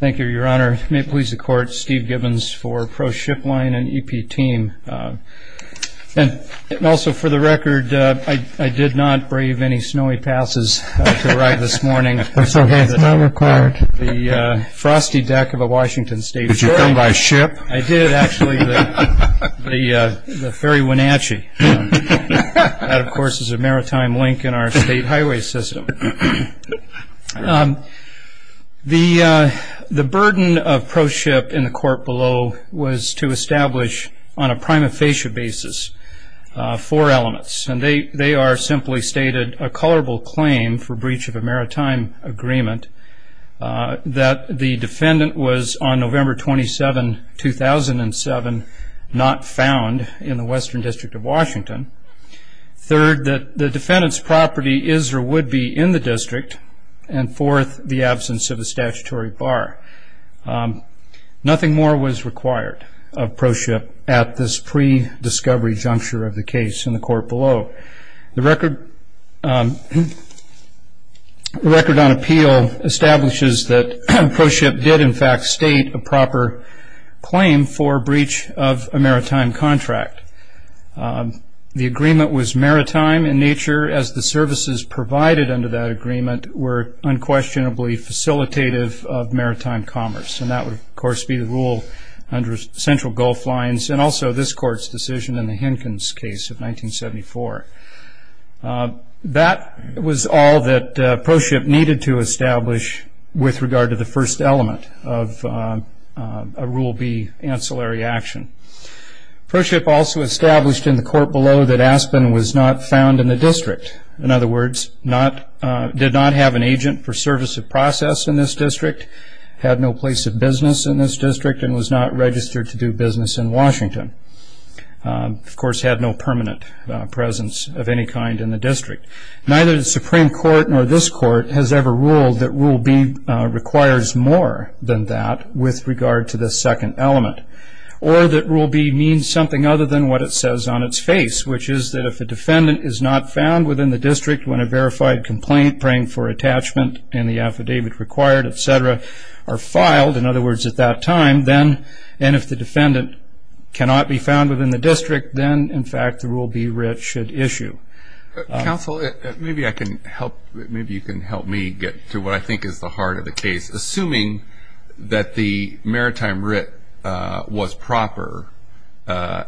Thank you, Your Honor. May it please the Court, Steve Gibbons for Proshipline and EP Team. Also, for the record, I did not brave any snowy passes to arrive this morning. That's okay. It's not required. The frosty deck of a Washington State ferry. Did you come by ship? I did, actually. The Ferry Wenatchee. That, of course, is a maritime link in our state highway system. The burden of proship in the court below was to establish, on a prima facie basis, four elements. They are, simply stated, a colorable claim for breach of a maritime agreement that the defendant was, on November 27, 2007, not found in the Western District of Washington. Third, that the defendant's property is or would be in the district. And fourth, the absence of a statutory bar. Nothing more was required of proship at this pre-discovery juncture of the case in the court below. The record on appeal establishes that proship did, in fact, state a proper claim for breach of a maritime contract. The agreement was maritime in nature as the services provided under that agreement were unquestionably facilitative of maritime commerce. And that would, of course, be the rule under Central Gulf Lines and also this court's decision in the Henkins case of 1974. That was all that proship needed to establish with regard to the first element of a Rule B ancillary action. Proship also established in the court below that Aspen was not found in the district. In other words, did not have an agent for service of process in this district, had no place of business in this district, and was not registered to do business in Washington. Of course, had no permanent presence of any kind in the district. Neither the Supreme Court nor this court has ever ruled that Rule B requires more than that with regard to the second element. Or that Rule B means something other than what it says on its face, which is that if a defendant is not found within the district when a verified complaint, praying for attachment and the affidavit required, etc., are filed, in other words, at that time, then if the defendant cannot be found within the district, then, in fact, the Rule B writ should issue. Counsel, maybe you can help me get to what I think is the heart of the case. Assuming that the maritime writ was proper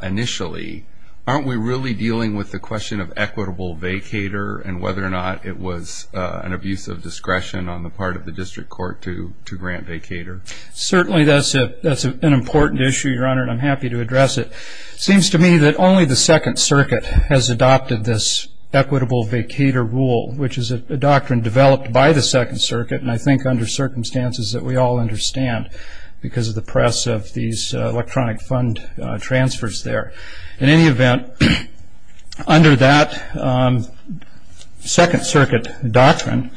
initially, aren't we really dealing with the question of equitable vacator and whether or not it was an abuse of discretion on the part of the district court to grant vacator? Certainly, that's an important issue, Your Honor, and I'm happy to address it. It seems to me that only the Second Circuit has adopted this equitable vacator rule, which is a doctrine developed by the Second Circuit, and I think under circumstances that we all understand because of the press of these electronic fund transfers there. In any event, under that Second Circuit doctrine,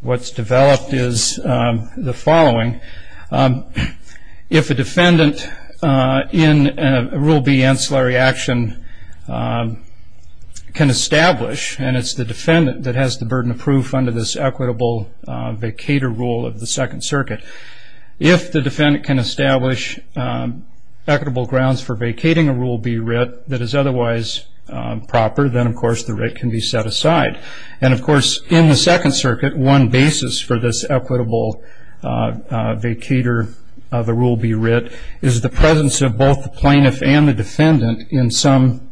what's developed is the following. If a defendant in a Rule B ancillary action can establish, and it's the defendant that has the burden of proof under this equitable vacator rule of the Second Circuit, if the defendant can establish equitable grounds for vacating a Rule B writ that is otherwise proper, then, of course, the writ can be set aside. And, of course, in the Second Circuit, one basis for this equitable vacator of a Rule B writ is the presence of both the plaintiff and the defendant in some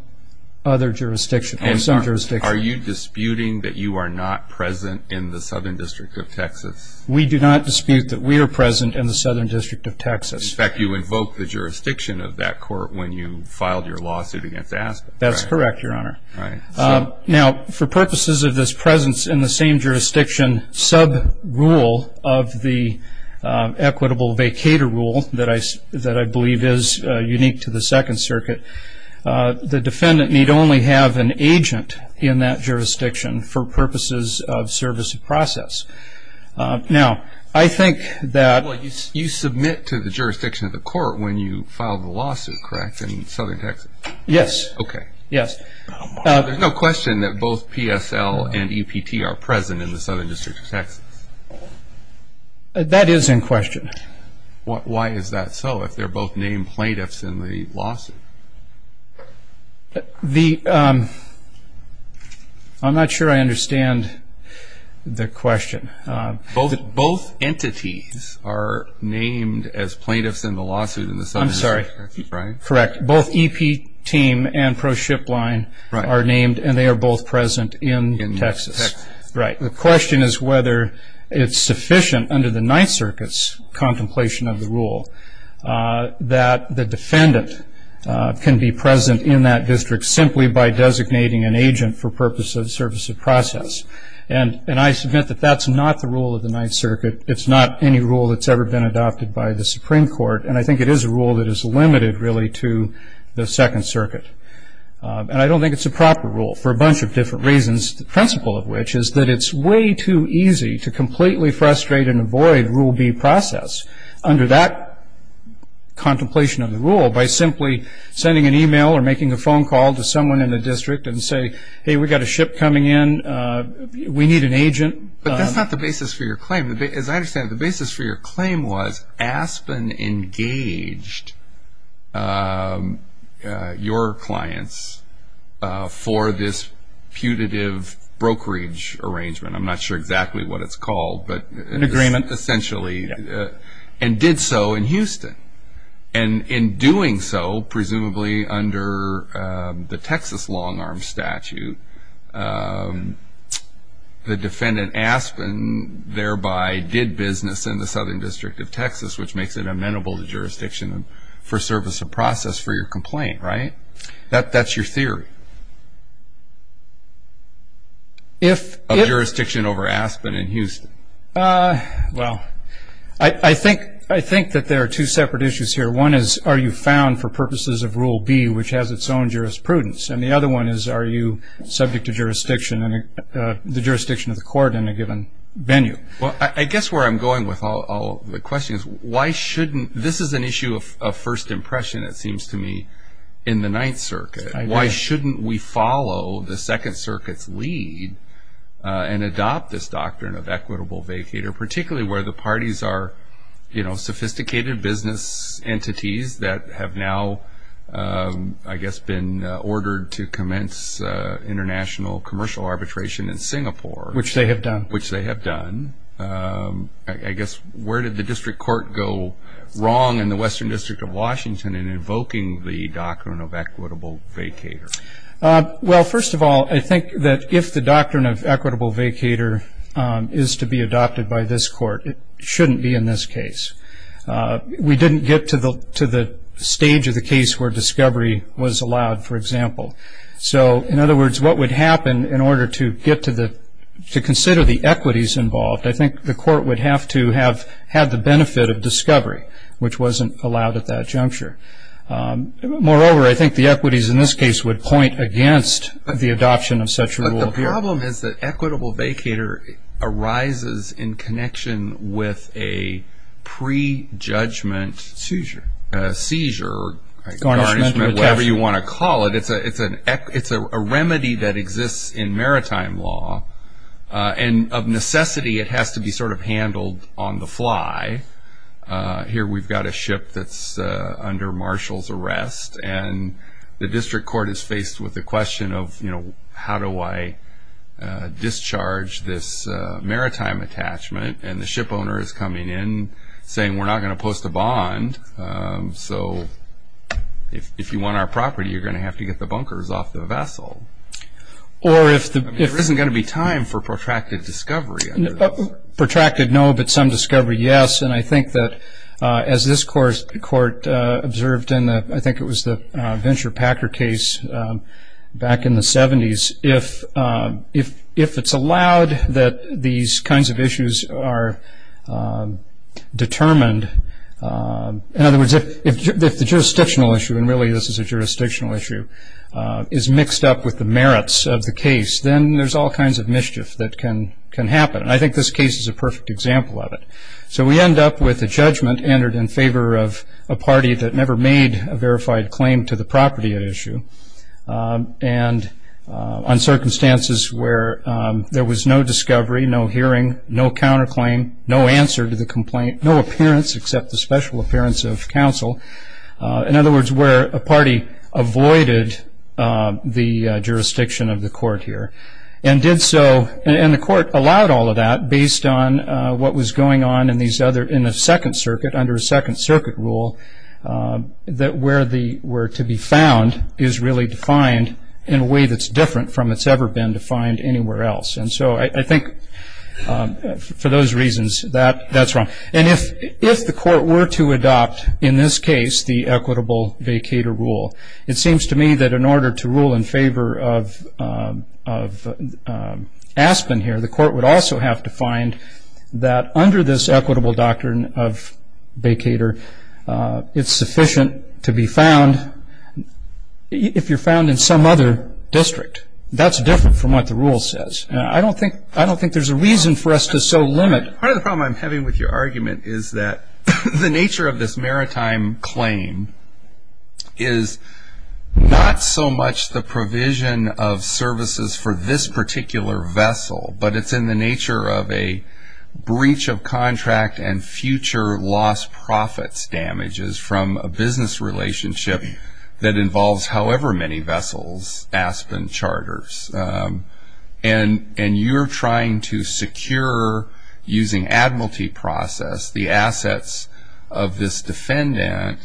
other jurisdiction. Are you disputing that you are not present in the Southern District of Texas? We do not dispute that we are present in the Southern District of Texas. In fact, you invoked the jurisdiction of that court when you filed your lawsuit against Aspen. That's correct, Your Honor. All right. Now, for purposes of this presence in the same jurisdiction sub-rule of the equitable vacator rule that I believe is unique to the Second Circuit, the defendant need only have an agent in that jurisdiction for purposes of service of process. Now, I think that- Well, you submit to the jurisdiction of the court when you filed the lawsuit, correct, in Southern Texas? Yes. Okay. Yes. There's no question that both PSL and EPT are present in the Southern District of Texas? That is in question. Why is that so if they're both named plaintiffs in the lawsuit? I'm not sure I understand the question. Both entities are named as plaintiffs in the lawsuit in the Southern District of Texas, right? I'm sorry. Correct. Both EPT and pro-ship line are named, and they are both present in Texas. In Texas. Right. The question is whether it's sufficient under the Ninth Circuit's contemplation of the rule that the defendant can be present in that district simply by designating an agent for purposes of service of process. And I submit that that's not the rule of the Ninth Circuit. It's not any rule that's ever been adopted by the Supreme Court. And I think it is a rule that is limited, really, to the Second Circuit. And I don't think it's a proper rule for a bunch of different reasons, the principle of which is that it's way too easy to completely frustrate and avoid Rule B process under that contemplation of the rule by simply sending an e-mail or making a phone call to someone in the district and say, hey, we've got a ship coming in, we need an agent. But that's not the basis for your claim. As I understand it, the basis for your claim was Aspen engaged your clients for this putative brokerage arrangement. I'm not sure exactly what it's called. An agreement, essentially. And did so in Houston. And in doing so, presumably under the Texas long-arm statute, the defendant Aspen thereby did business in the Southern District of Texas, which makes it amenable to jurisdiction for service of process for your complaint, right? That's your theory? Of jurisdiction over Aspen in Houston. Well, I think that there are two separate issues here. One is, are you found for purposes of Rule B, which has its own jurisprudence? And the other one is, are you subject to the jurisdiction of the court in a given venue? Well, I guess where I'm going with all the questions, this is an issue of first impression, it seems to me, in the Ninth Circuit. Why shouldn't we follow the Second Circuit's lead and adopt this doctrine of equitable vacater, particularly where the parties are sophisticated business entities that have now, I guess, been ordered to commence international commercial arbitration in Singapore. Which they have done. Which they have done. I guess, where did the district court go wrong in the Western District of Washington in invoking the doctrine of equitable vacater? Well, first of all, I think that if the doctrine of equitable vacater is to be adopted by this court, it shouldn't be in this case. We didn't get to the stage of the case where discovery was allowed, for example. So, in other words, what would happen in order to consider the equities involved, I think the court would have to have had the benefit of discovery, which wasn't allowed at that juncture. Moreover, I think the equities in this case would point against the adoption of such a rule. But the problem is that equitable vacater arises in connection with a pre-judgment seizure, or garnishment, whatever you want to call it. It's a remedy that exists in maritime law. And of necessity, it has to be sort of handled on the fly. Here we've got a ship that's under marshal's arrest. And the district court is faced with the question of, you know, how do I discharge this maritime attachment? And the ship owner is coming in saying, we're not going to post a bond. So, if you want our property, you're going to have to get the bunkers off the vessel. Or if the- There isn't going to be time for protracted discovery. Protracted, no, but some discovery, yes. And I think that as this court observed in, I think it was the Venture Packer case back in the 70s, if it's allowed that these kinds of issues are determined, in other words, if the jurisdictional issue, and really this is a jurisdictional issue, is mixed up with the merits of the case, then there's all kinds of mischief that can happen. And I think this case is a perfect example of it. So we end up with a judgment entered in favor of a party that never made a verified claim to the property at issue, and on circumstances where there was no discovery, no hearing, no counterclaim, no answer to the complaint, no appearance except the special appearance of counsel. In other words, where a party avoided the jurisdiction of the court here and did so, and the court allowed all of that based on what was going on in the Second Circuit, under a Second Circuit rule, that where to be found is really defined in a way that's different from what's ever been defined anywhere else. And so I think for those reasons, that's wrong. And if the court were to adopt, in this case, the equitable vacator rule, it seems to me that in order to rule in favor of Aspen here, the court would also have to find that under this equitable doctrine of vacator, it's sufficient to be found if you're found in some other district. That's different from what the rule says. I don't think there's a reason for us to so limit. Part of the problem I'm having with your argument is that the nature of this maritime claim is not so much the provision of services for this particular vessel, but it's in the nature of a breach of contract and future lost profits damages from a business relationship that involves however many vessels, Aspen charters. And you're trying to secure, using admiralty process, the assets of this defendant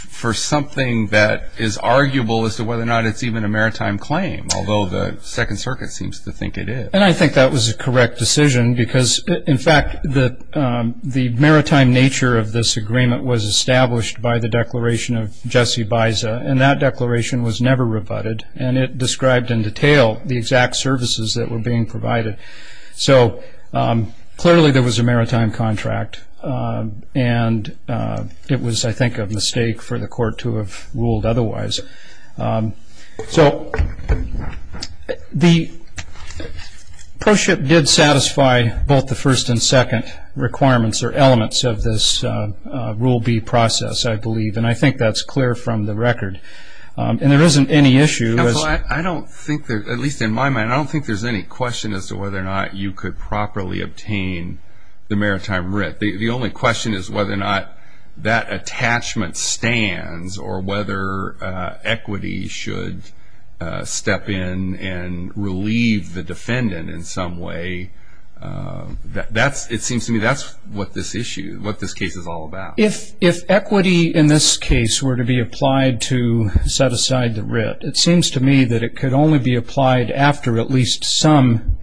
for something that is arguable as to whether or not it's even a maritime claim, although the Second Circuit seems to think it is. And I think that was a correct decision because, in fact, the maritime nature of this agreement was established by the declaration of Jesse Biza, and that declaration was never rebutted, and it described in detail the exact services that were being provided. So clearly there was a maritime contract, and it was, I think, a mistake for the court to have ruled otherwise. So the proship did satisfy both the first and second requirements or elements of this Rule B process, I believe, and I think that's clear from the record. And there isn't any issue. I don't think there's, at least in my mind, I don't think there's any question as to whether or not you could properly obtain the maritime writ. The only question is whether or not that attachment stands or whether equity should step in and relieve the defendant in some way. It seems to me that's what this issue, what this case is all about. If equity in this case were to be applied to set aside the writ, it seems to me that it could only be applied after at least some,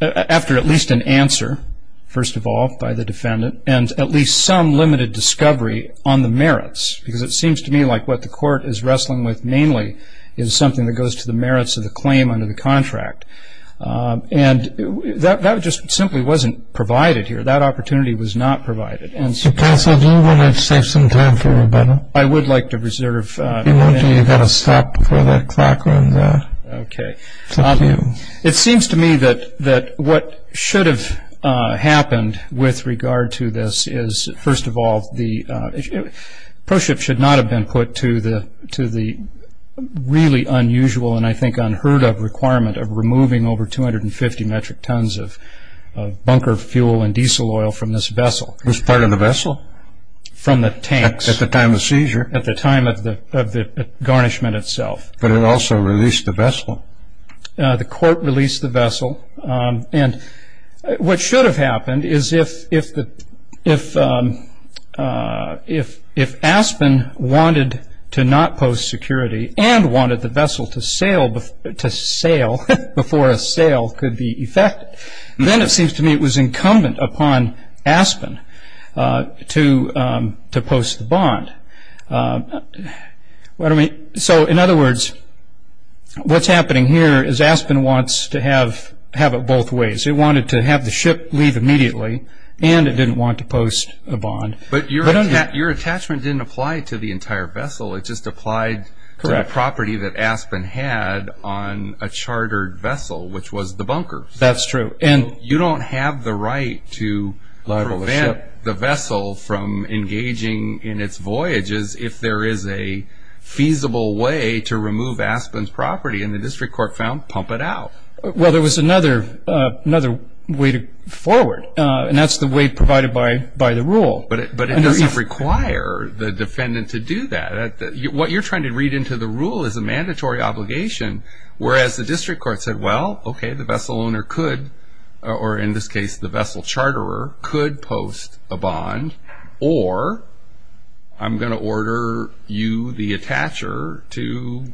after at least an answer, first of all, by the defendant, and at least some limited discovery on the merits, because it seems to me like what the court is wrestling with mainly is something that goes to the merits of the claim under the contract. And that just simply wasn't provided here. That opportunity was not provided. So, Counsel, do you want to save some time for Rebecca? I would like to reserve. You've got to stop before that clock runs out. Okay. Thank you. It seems to me that what should have happened with regard to this is, first of all, the proship should not have been put to the really unusual and I think unheard of requirement of removing over 250 metric tons of bunker fuel and diesel oil from this vessel. It was part of the vessel? From the tanks. At the time of the seizure? At the time of the garnishment itself. But it also released the vessel. The court released the vessel. And what should have happened is if Aspen wanted to not post security and wanted the vessel to sail before a sale could be effected, then it seems to me it was incumbent upon Aspen to post the bond. So, in other words, what's happening here is Aspen wants to have it both ways. It wanted to have the ship leave immediately and it didn't want to post a bond. But your attachment didn't apply to the entire vessel. It just applied to the property that Aspen had on a chartered vessel, which was the bunker. That's true. You don't have the right to prevent the vessel from engaging in its voyages if there is a feasible way to remove Aspen's property, and the district court found pump it out. Well, there was another way forward, and that's the way provided by the rule. But it doesn't require the defendant to do that. What you're trying to read into the rule is a mandatory obligation, whereas the district court said, well, okay, the vessel owner could, or in this case the vessel charterer, could post a bond, or I'm going to order you, the attacher, to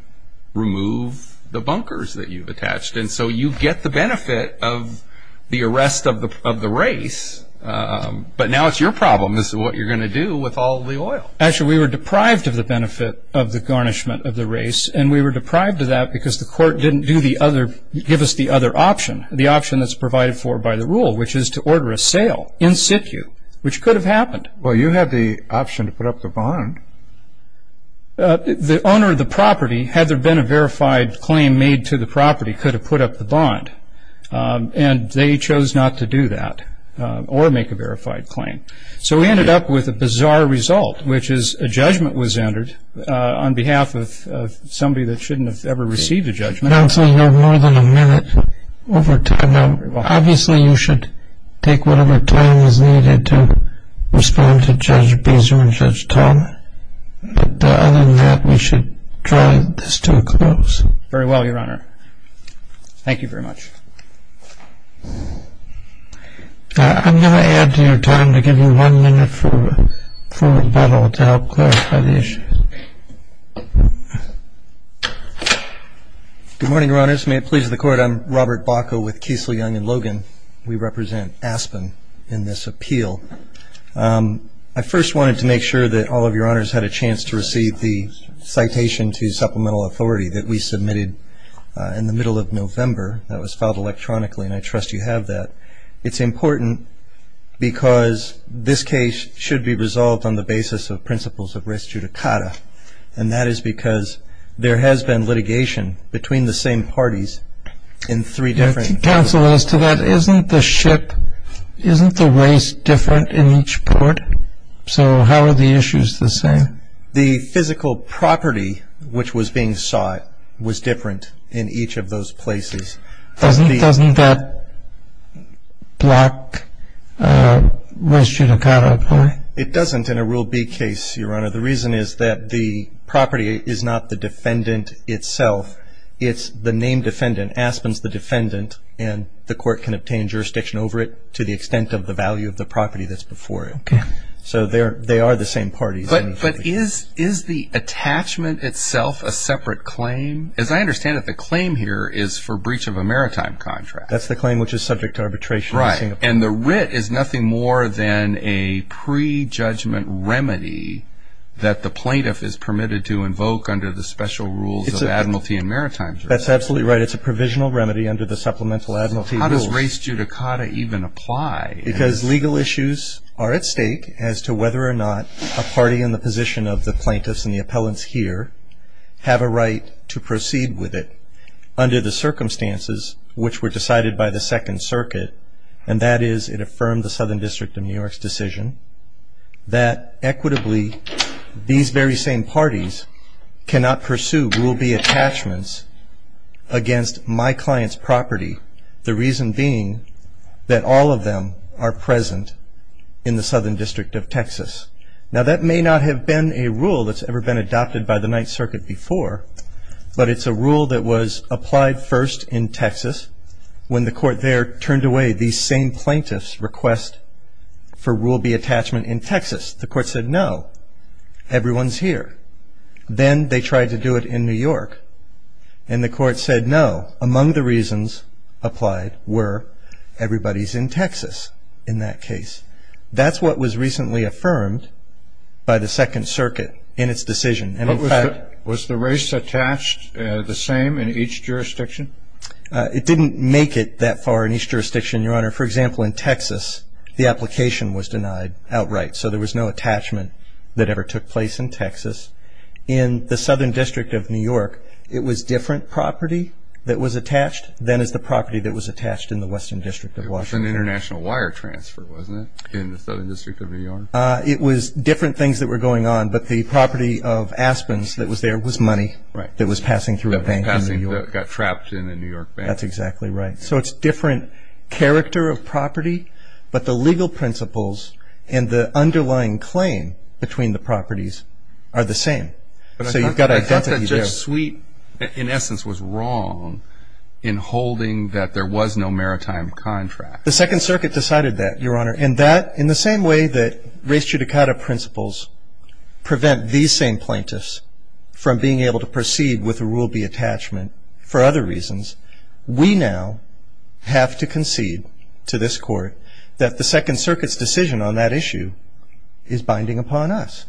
remove the bunkers that you've attached. And so you get the benefit of the arrest of the race, but now it's your problem is what you're going to do with all the oil. Actually, we were deprived of the benefit of the garnishment of the race, and we were deprived of that because the court didn't give us the other option, the option that's provided for by the rule, which is to order a sale in situ, which could have happened. Well, you have the option to put up the bond. The owner of the property, had there been a verified claim made to the property, could have put up the bond, and they chose not to do that or make a verified claim. So we ended up with a bizarre result, which is a judgment was entered on behalf of somebody that shouldn't have ever received a judgment. Counsel, you have more than a minute over to come out. Obviously, you should take whatever time is needed to respond to Judge Beazer and Judge Tom. But other than that, we should draw this to a close. Very well, Your Honor. Thank you very much. I'm going to add to your time to give you one minute for rebuttal to help clarify the issues. Good morning, Your Honors. May it please the Court, I'm Robert Bacow with Kiesel, Young & Logan. We represent Aspen in this appeal. I first wanted to make sure that all of Your Honors had a chance to receive the citation to supplemental authority that we submitted in the middle of November that was filed electronically, and I trust you have that. It's important because this case should be resolved on the basis of principles of res judicata, and that is because there has been litigation between the same parties in three different courts. Counsel, as to that, isn't the ship, isn't the race different in each court? So how are the issues the same? The physical property which was being sought was different in each of those places. Doesn't that block res judicata? It doesn't in a Rule B case, Your Honor. The reason is that the property is not the defendant itself. It's the named defendant, Aspen's the defendant, and the court can obtain jurisdiction over it to the extent of the value of the property that's before it. Okay. So they are the same parties. But is the attachment itself a separate claim? As I understand it, the claim here is for breach of a maritime contract. That's the claim which is subject to arbitration in Singapore. Right, and the writ is nothing more than a pre-judgment remedy that the plaintiff is permitted to invoke under the special rules of admiralty and maritimes. That's absolutely right. It's a provisional remedy under the supplemental admiralty rules. How does res judicata even apply? Because legal issues are at stake as to whether or not a party in the position of the plaintiffs and the appellants here have a right to proceed with it under the circumstances which were decided by the Second Circuit, and that is it affirmed the Southern District of New York's decision that equitably these very same parties cannot pursue Rule B attachments against my client's property, the reason being that all of them are present in the Southern District of Texas. Now, that may not have been a rule that's ever been adopted by the Ninth Circuit before, but it's a rule that was applied first in Texas when the court there turned away these same plaintiffs' request for Rule B attachment in Texas. The court said no, everyone's here. Then they tried to do it in New York, and the court said no. Among the reasons applied were everybody's in Texas in that case. That's what was recently affirmed by the Second Circuit in its decision. Was the race attached the same in each jurisdiction? It didn't make it that far in each jurisdiction, Your Honor. For example, in Texas, the application was denied outright, so there was no attachment that ever took place in Texas. In the Southern District of New York, it was different property that was attached than is the property that was attached in the Western District of Washington. It was an international wire transfer, wasn't it, in the Southern District of New York? It was different things that were going on, but the property of Aspen's that was there was money that was passing through a bank in New York. That got trapped in a New York bank. That's exactly right. So it's different character of property, but the legal principles and the underlying claim between the properties are the same. So you've got identity there. But I thought that Judge Sweet, in essence, was wrong in holding that there was no maritime contract. The Second Circuit decided that, Your Honor, and that in the same way that race judicata principles prevent these same plaintiffs from being able to proceed with a Rule B attachment for other reasons, we now have to concede to this Court that the Second Circuit's decision on that issue is binding upon us.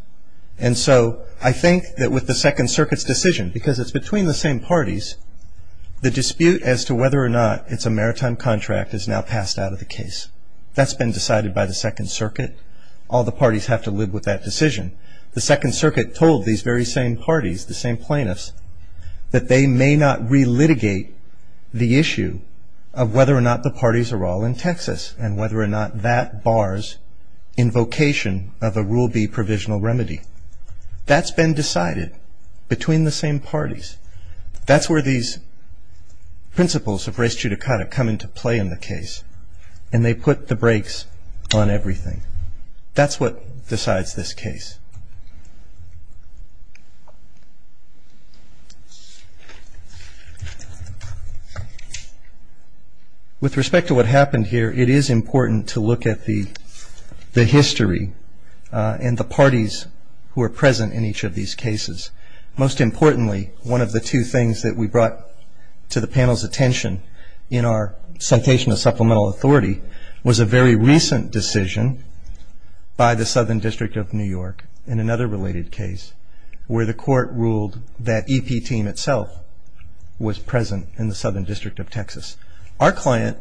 And so I think that with the Second Circuit's decision, because it's between the same parties, the dispute as to whether or not it's a maritime contract is now passed out of the case. That's been decided by the Second Circuit. All the parties have to live with that decision. The Second Circuit told these very same parties, the same plaintiffs, that they may not relitigate the issue of whether or not the parties are all in Texas and whether or not that bars invocation of a Rule B provisional remedy. That's been decided between the same parties. That's where these principles of race judicata come into play in the case, and they put the brakes on everything. That's what decides this case. With respect to what happened here, it is important to look at the history and the parties who are present in each of these cases. Most importantly, one of the two things that we brought to the panel's attention in our citation of supplemental authority was a very recent decision by the Southern District of New York in another related case where the court ruled that EP Team itself was present in the Southern District of Texas. Our client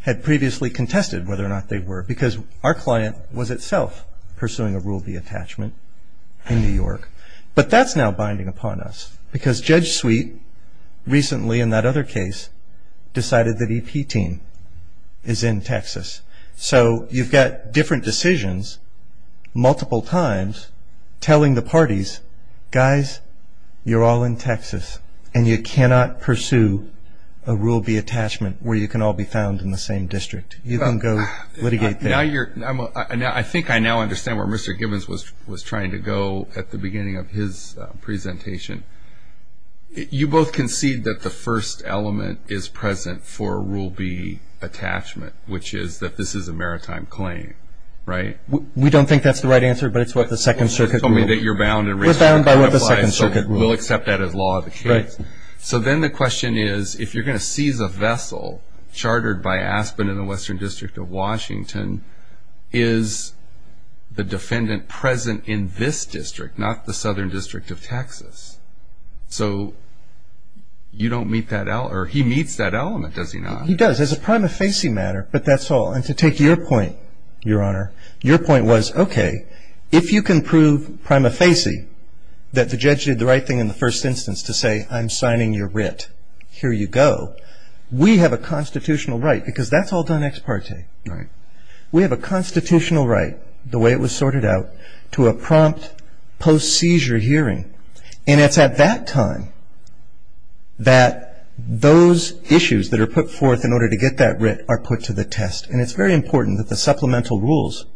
had previously contested whether or not they were because our client was itself pursuing a Rule B attachment in New York. But that's now binding upon us because Judge Sweet recently in that other case decided that EP Team is in Texas. So you've got different decisions multiple times telling the parties, guys, you're all in Texas, and you cannot pursue a Rule B attachment where you can all be found in the same district. You can go litigate there. I think I now understand where Mr. Gibbons was trying to go at the beginning of his presentation. You both concede that the first element is present for a Rule B attachment, which is that this is a maritime claim, right? We don't think that's the right answer, but it's what the Second Circuit ruled. You told me that you're bound and reasonable to contemplate. We're bound by what the Second Circuit ruled. We'll accept that as law of the case. Right. So then the question is if you're going to seize a vessel chartered by Aspen in the Western District of Washington, is the defendant present in this district, not the Southern District of Texas? So you don't meet that, or he meets that element, does he not? No, he does as a prima facie matter, but that's all. And to take your point, Your Honor, your point was, okay, if you can prove prima facie that the judge did the right thing in the first instance to say I'm signing your writ, here you go. We have a constitutional right, because that's all done ex parte. Right. We have a constitutional right, the way it was sorted out, to a prompt post-seizure hearing. And it's at that time that those issues that are put forth in order to get that writ are put to the test. And it's very important that the supplemental rules,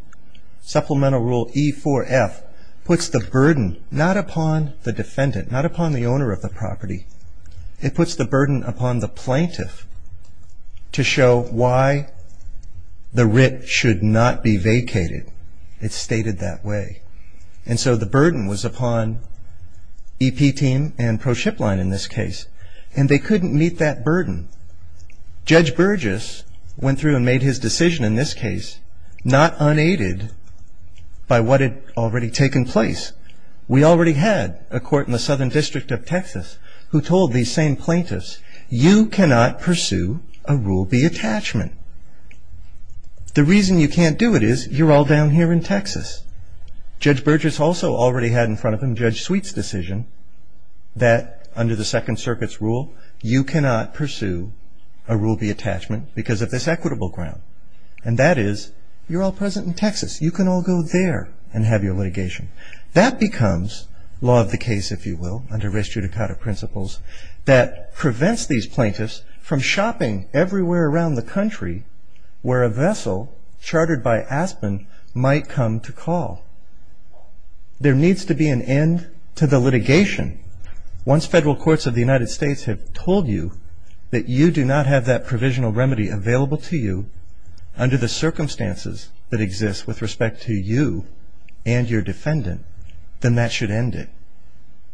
supplemental rule E4F, puts the burden not upon the defendant, not upon the owner of the property. It puts the burden upon the plaintiff to show why the writ should not be vacated. It's stated that way. And so the burden was upon EP team and pro-ship line in this case, and they couldn't meet that burden. Judge Burgess went through and made his decision in this case not unaided by what had already taken place. We already had a court in the Southern District of Texas who told these same plaintiffs, you cannot pursue a Rule B attachment. The reason you can't do it is you're all down here in Texas. Judge Burgess also already had in front of him Judge Sweet's decision that under the Second Circuit's rule, you cannot pursue a Rule B attachment because of this equitable ground. And that is, you're all present in Texas. You can all go there and have your litigation. That becomes law of the case, if you will, under res judicata principles, that prevents these plaintiffs from shopping everywhere around the country where a vessel chartered by Aspen might come to call. There needs to be an end to the litigation. Once federal courts of the United States have told you that you do not have that provisional remedy available to you under the circumstances that exist with respect to you and your defendant, then that should end it.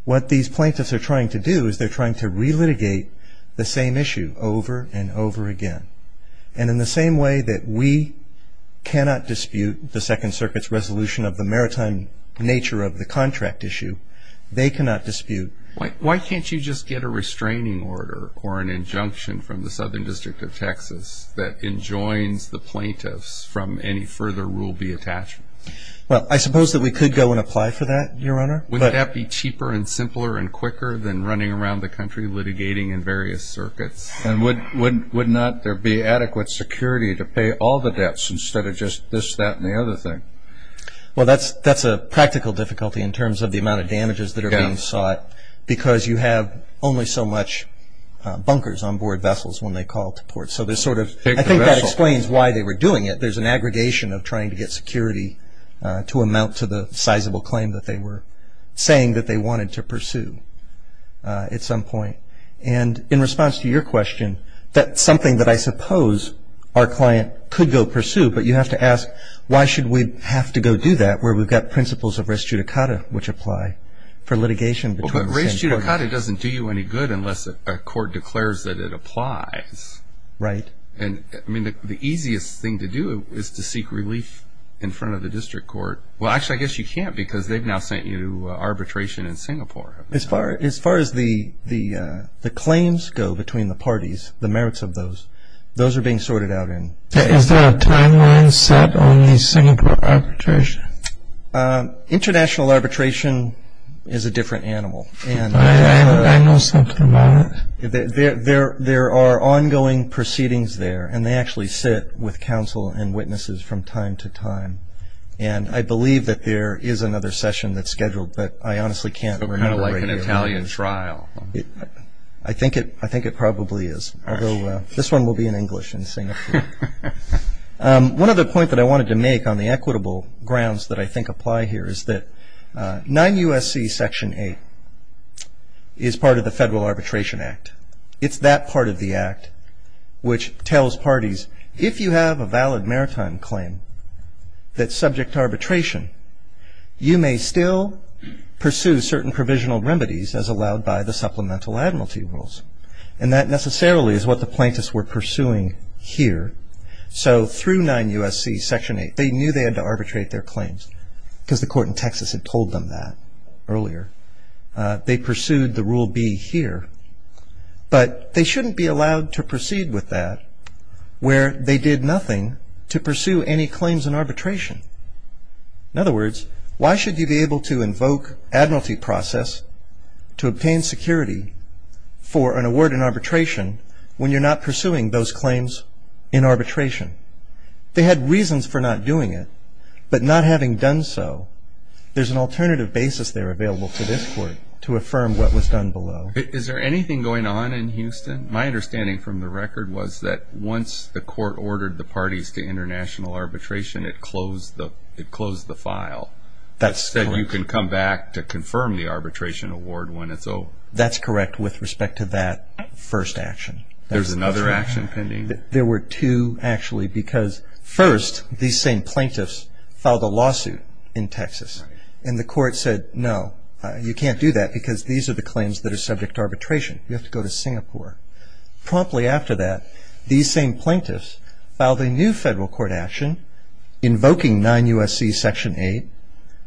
What these plaintiffs are trying to do is they're trying to re-litigate the same issue over and over again. And in the same way that we cannot dispute the Second Circuit's resolution of the maritime nature of the contract issue, they cannot dispute. Why can't you just get a restraining order or an injunction from the Southern District of Texas that enjoins the plaintiffs from any further Rule B attachment? Well, I suppose that we could go and apply for that, Your Honor. Wouldn't that be cheaper and simpler and quicker than running around the country litigating in various circuits? And would not there be adequate security to pay all the debts instead of just this, that, and the other thing? Well, that's a practical difficulty in terms of the amount of damages that are being sought because you have only so much bunkers on board vessels when they call to port. So there's sort of – I think that explains why they were doing it. I think there's an aggregation of trying to get security to amount to the sizable claim that they were saying that they wanted to pursue at some point. And in response to your question, that's something that I suppose our client could go pursue, but you have to ask why should we have to go do that where we've got principles of res judicata which apply for litigation. But res judicata doesn't do you any good unless a court declares that it applies. Right. And, I mean, the easiest thing to do is to seek relief in front of the district court. Well, actually, I guess you can't because they've now sent you arbitration in Singapore. As far as the claims go between the parties, the merits of those, those are being sorted out in – Is there a timeline set on the Singapore arbitration? International arbitration is a different animal. I know something about it. There are ongoing proceedings there, and they actually sit with counsel and witnesses from time to time. And I believe that there is another session that's scheduled, but I honestly can't remember. It's kind of like an Italian trial. I think it probably is, although this one will be in English in Singapore. One other point that I wanted to make on the equitable grounds that I think apply here is that 9 U.S.C. Section 8 is part of the Federal Arbitration Act. It's that part of the act which tells parties, if you have a valid maritime claim that's subject to arbitration, you may still pursue certain provisional remedies as allowed by the supplemental admiralty rules. And that necessarily is what the plaintiffs were pursuing here. So through 9 U.S.C. Section 8, they knew they had to arbitrate their claims because the court in Texas had told them that earlier. They pursued the Rule B here. But they shouldn't be allowed to proceed with that where they did nothing to pursue any claims in arbitration. In other words, why should you be able to invoke admiralty process to obtain security for an award in arbitration when you're not pursuing those claims in arbitration? They had reasons for not doing it, but not having done so, there's an alternative basis there available for this court to affirm what was done below. Is there anything going on in Houston? My understanding from the record was that once the court ordered the parties to international arbitration, it closed the file. That's correct. It said you can come back to confirm the arbitration award when it's over. That's correct with respect to that first action. There's another action pending? There were two, actually, because first, these same plaintiffs filed a lawsuit in Texas, and the court said, no, you can't do that because these are the claims that are subject to arbitration. You have to go to Singapore. Promptly after that, these same plaintiffs filed a new federal court action invoking 9 U.S.C. Section 8,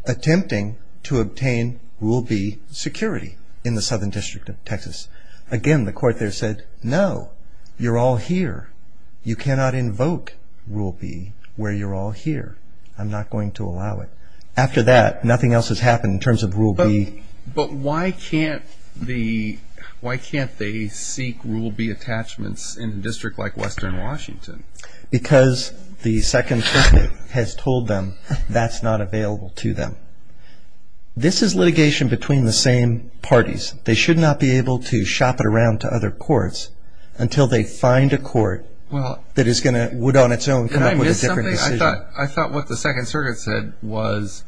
attempting to obtain Rule B security in the Southern District of Texas. Again, the court there said, no, you're all here. You cannot invoke Rule B where you're all here. I'm not going to allow it. After that, nothing else has happened in terms of Rule B. But why can't they seek Rule B attachments in a district like Western Washington? Because the Second Circuit has told them that's not available to them. This is litigation between the same parties. They should not be able to shop it around to other courts until they find a court that would on its own come up with a different decision. I thought what the Second Circuit said was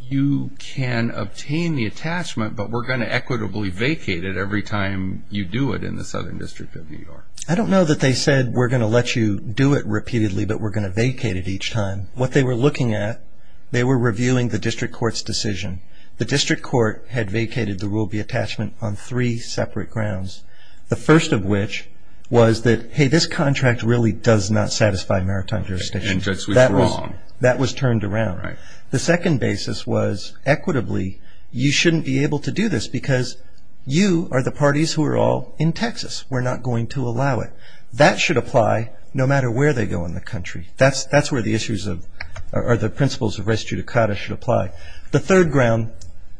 you can obtain the attachment, but we're going to equitably vacate it every time you do it in the Southern District of New York. I don't know that they said we're going to let you do it repeatedly, but we're going to vacate it each time. What they were looking at, they were reviewing the district court's decision. The district court had vacated the Rule B attachment on three separate grounds. The first of which was that, hey, this contract really does not satisfy maritime jurisdiction. That was turned around. The second basis was equitably you shouldn't be able to do this because you are the parties who are all in Texas. We're not going to allow it. That should apply no matter where they go in the country. That's where the principles of res judicata should apply. The third ground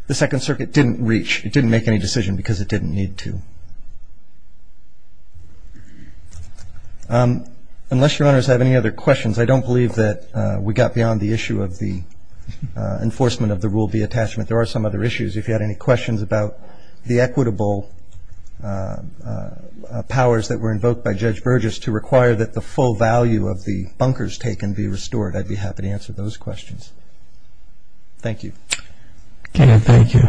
the Second Circuit didn't reach. It didn't make any decision because it didn't need to. Unless Your Honors have any other questions, I don't believe that we got beyond the issue of the enforcement of the Rule B attachment. There are some other issues. If you had any questions about the equitable powers that were invoked by Judge Burgess to require that the full value of the bunkers taken be restored, I'd be happy to answer those questions. Thank you. Okay. Thank you.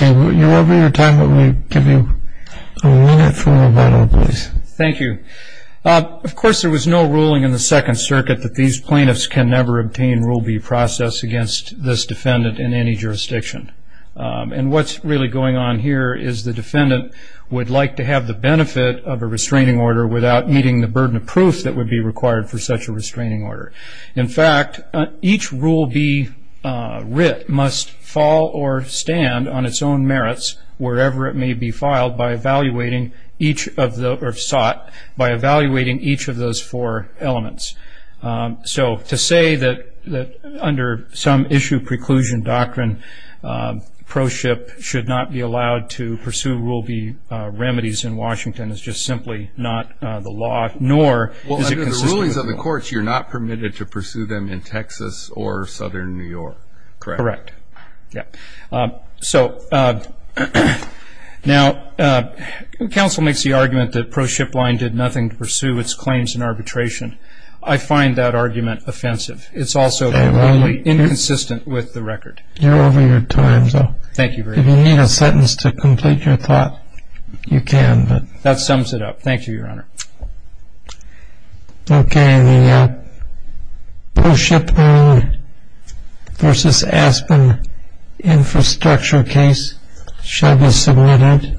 You're over your time. Let me give you a minute for rebuttal, please. Thank you. Of course, there was no ruling in the Second Circuit that these plaintiffs can never obtain Rule B process against this defendant in any jurisdiction. And what's really going on here is the defendant would like to have the benefit of a restraining order without meeting the burden of proof that would be required for such a restraining order. In fact, each Rule B writ must fall or stand on its own merits wherever it may be filed by evaluating each of the or sought by evaluating each of those four elements. So to say that under some issue preclusion doctrine, proship should not be allowed to pursue Rule B remedies in Washington is just simply not the law, nor is it consistent with the law. Well, under the rulings of the courts, you're not permitted to pursue them in Texas or southern New York, correct? Correct. Yeah. So now counsel makes the argument that proship line did nothing to pursue its claims in arbitration. I find that argument offensive. It's also completely inconsistent with the record. You're over your time. Thank you very much. If you need a sentence to complete your thought, you can. That sums it up. Thank you, Your Honor. Okay. The proship line versus Aspen infrastructure case shall be submitted.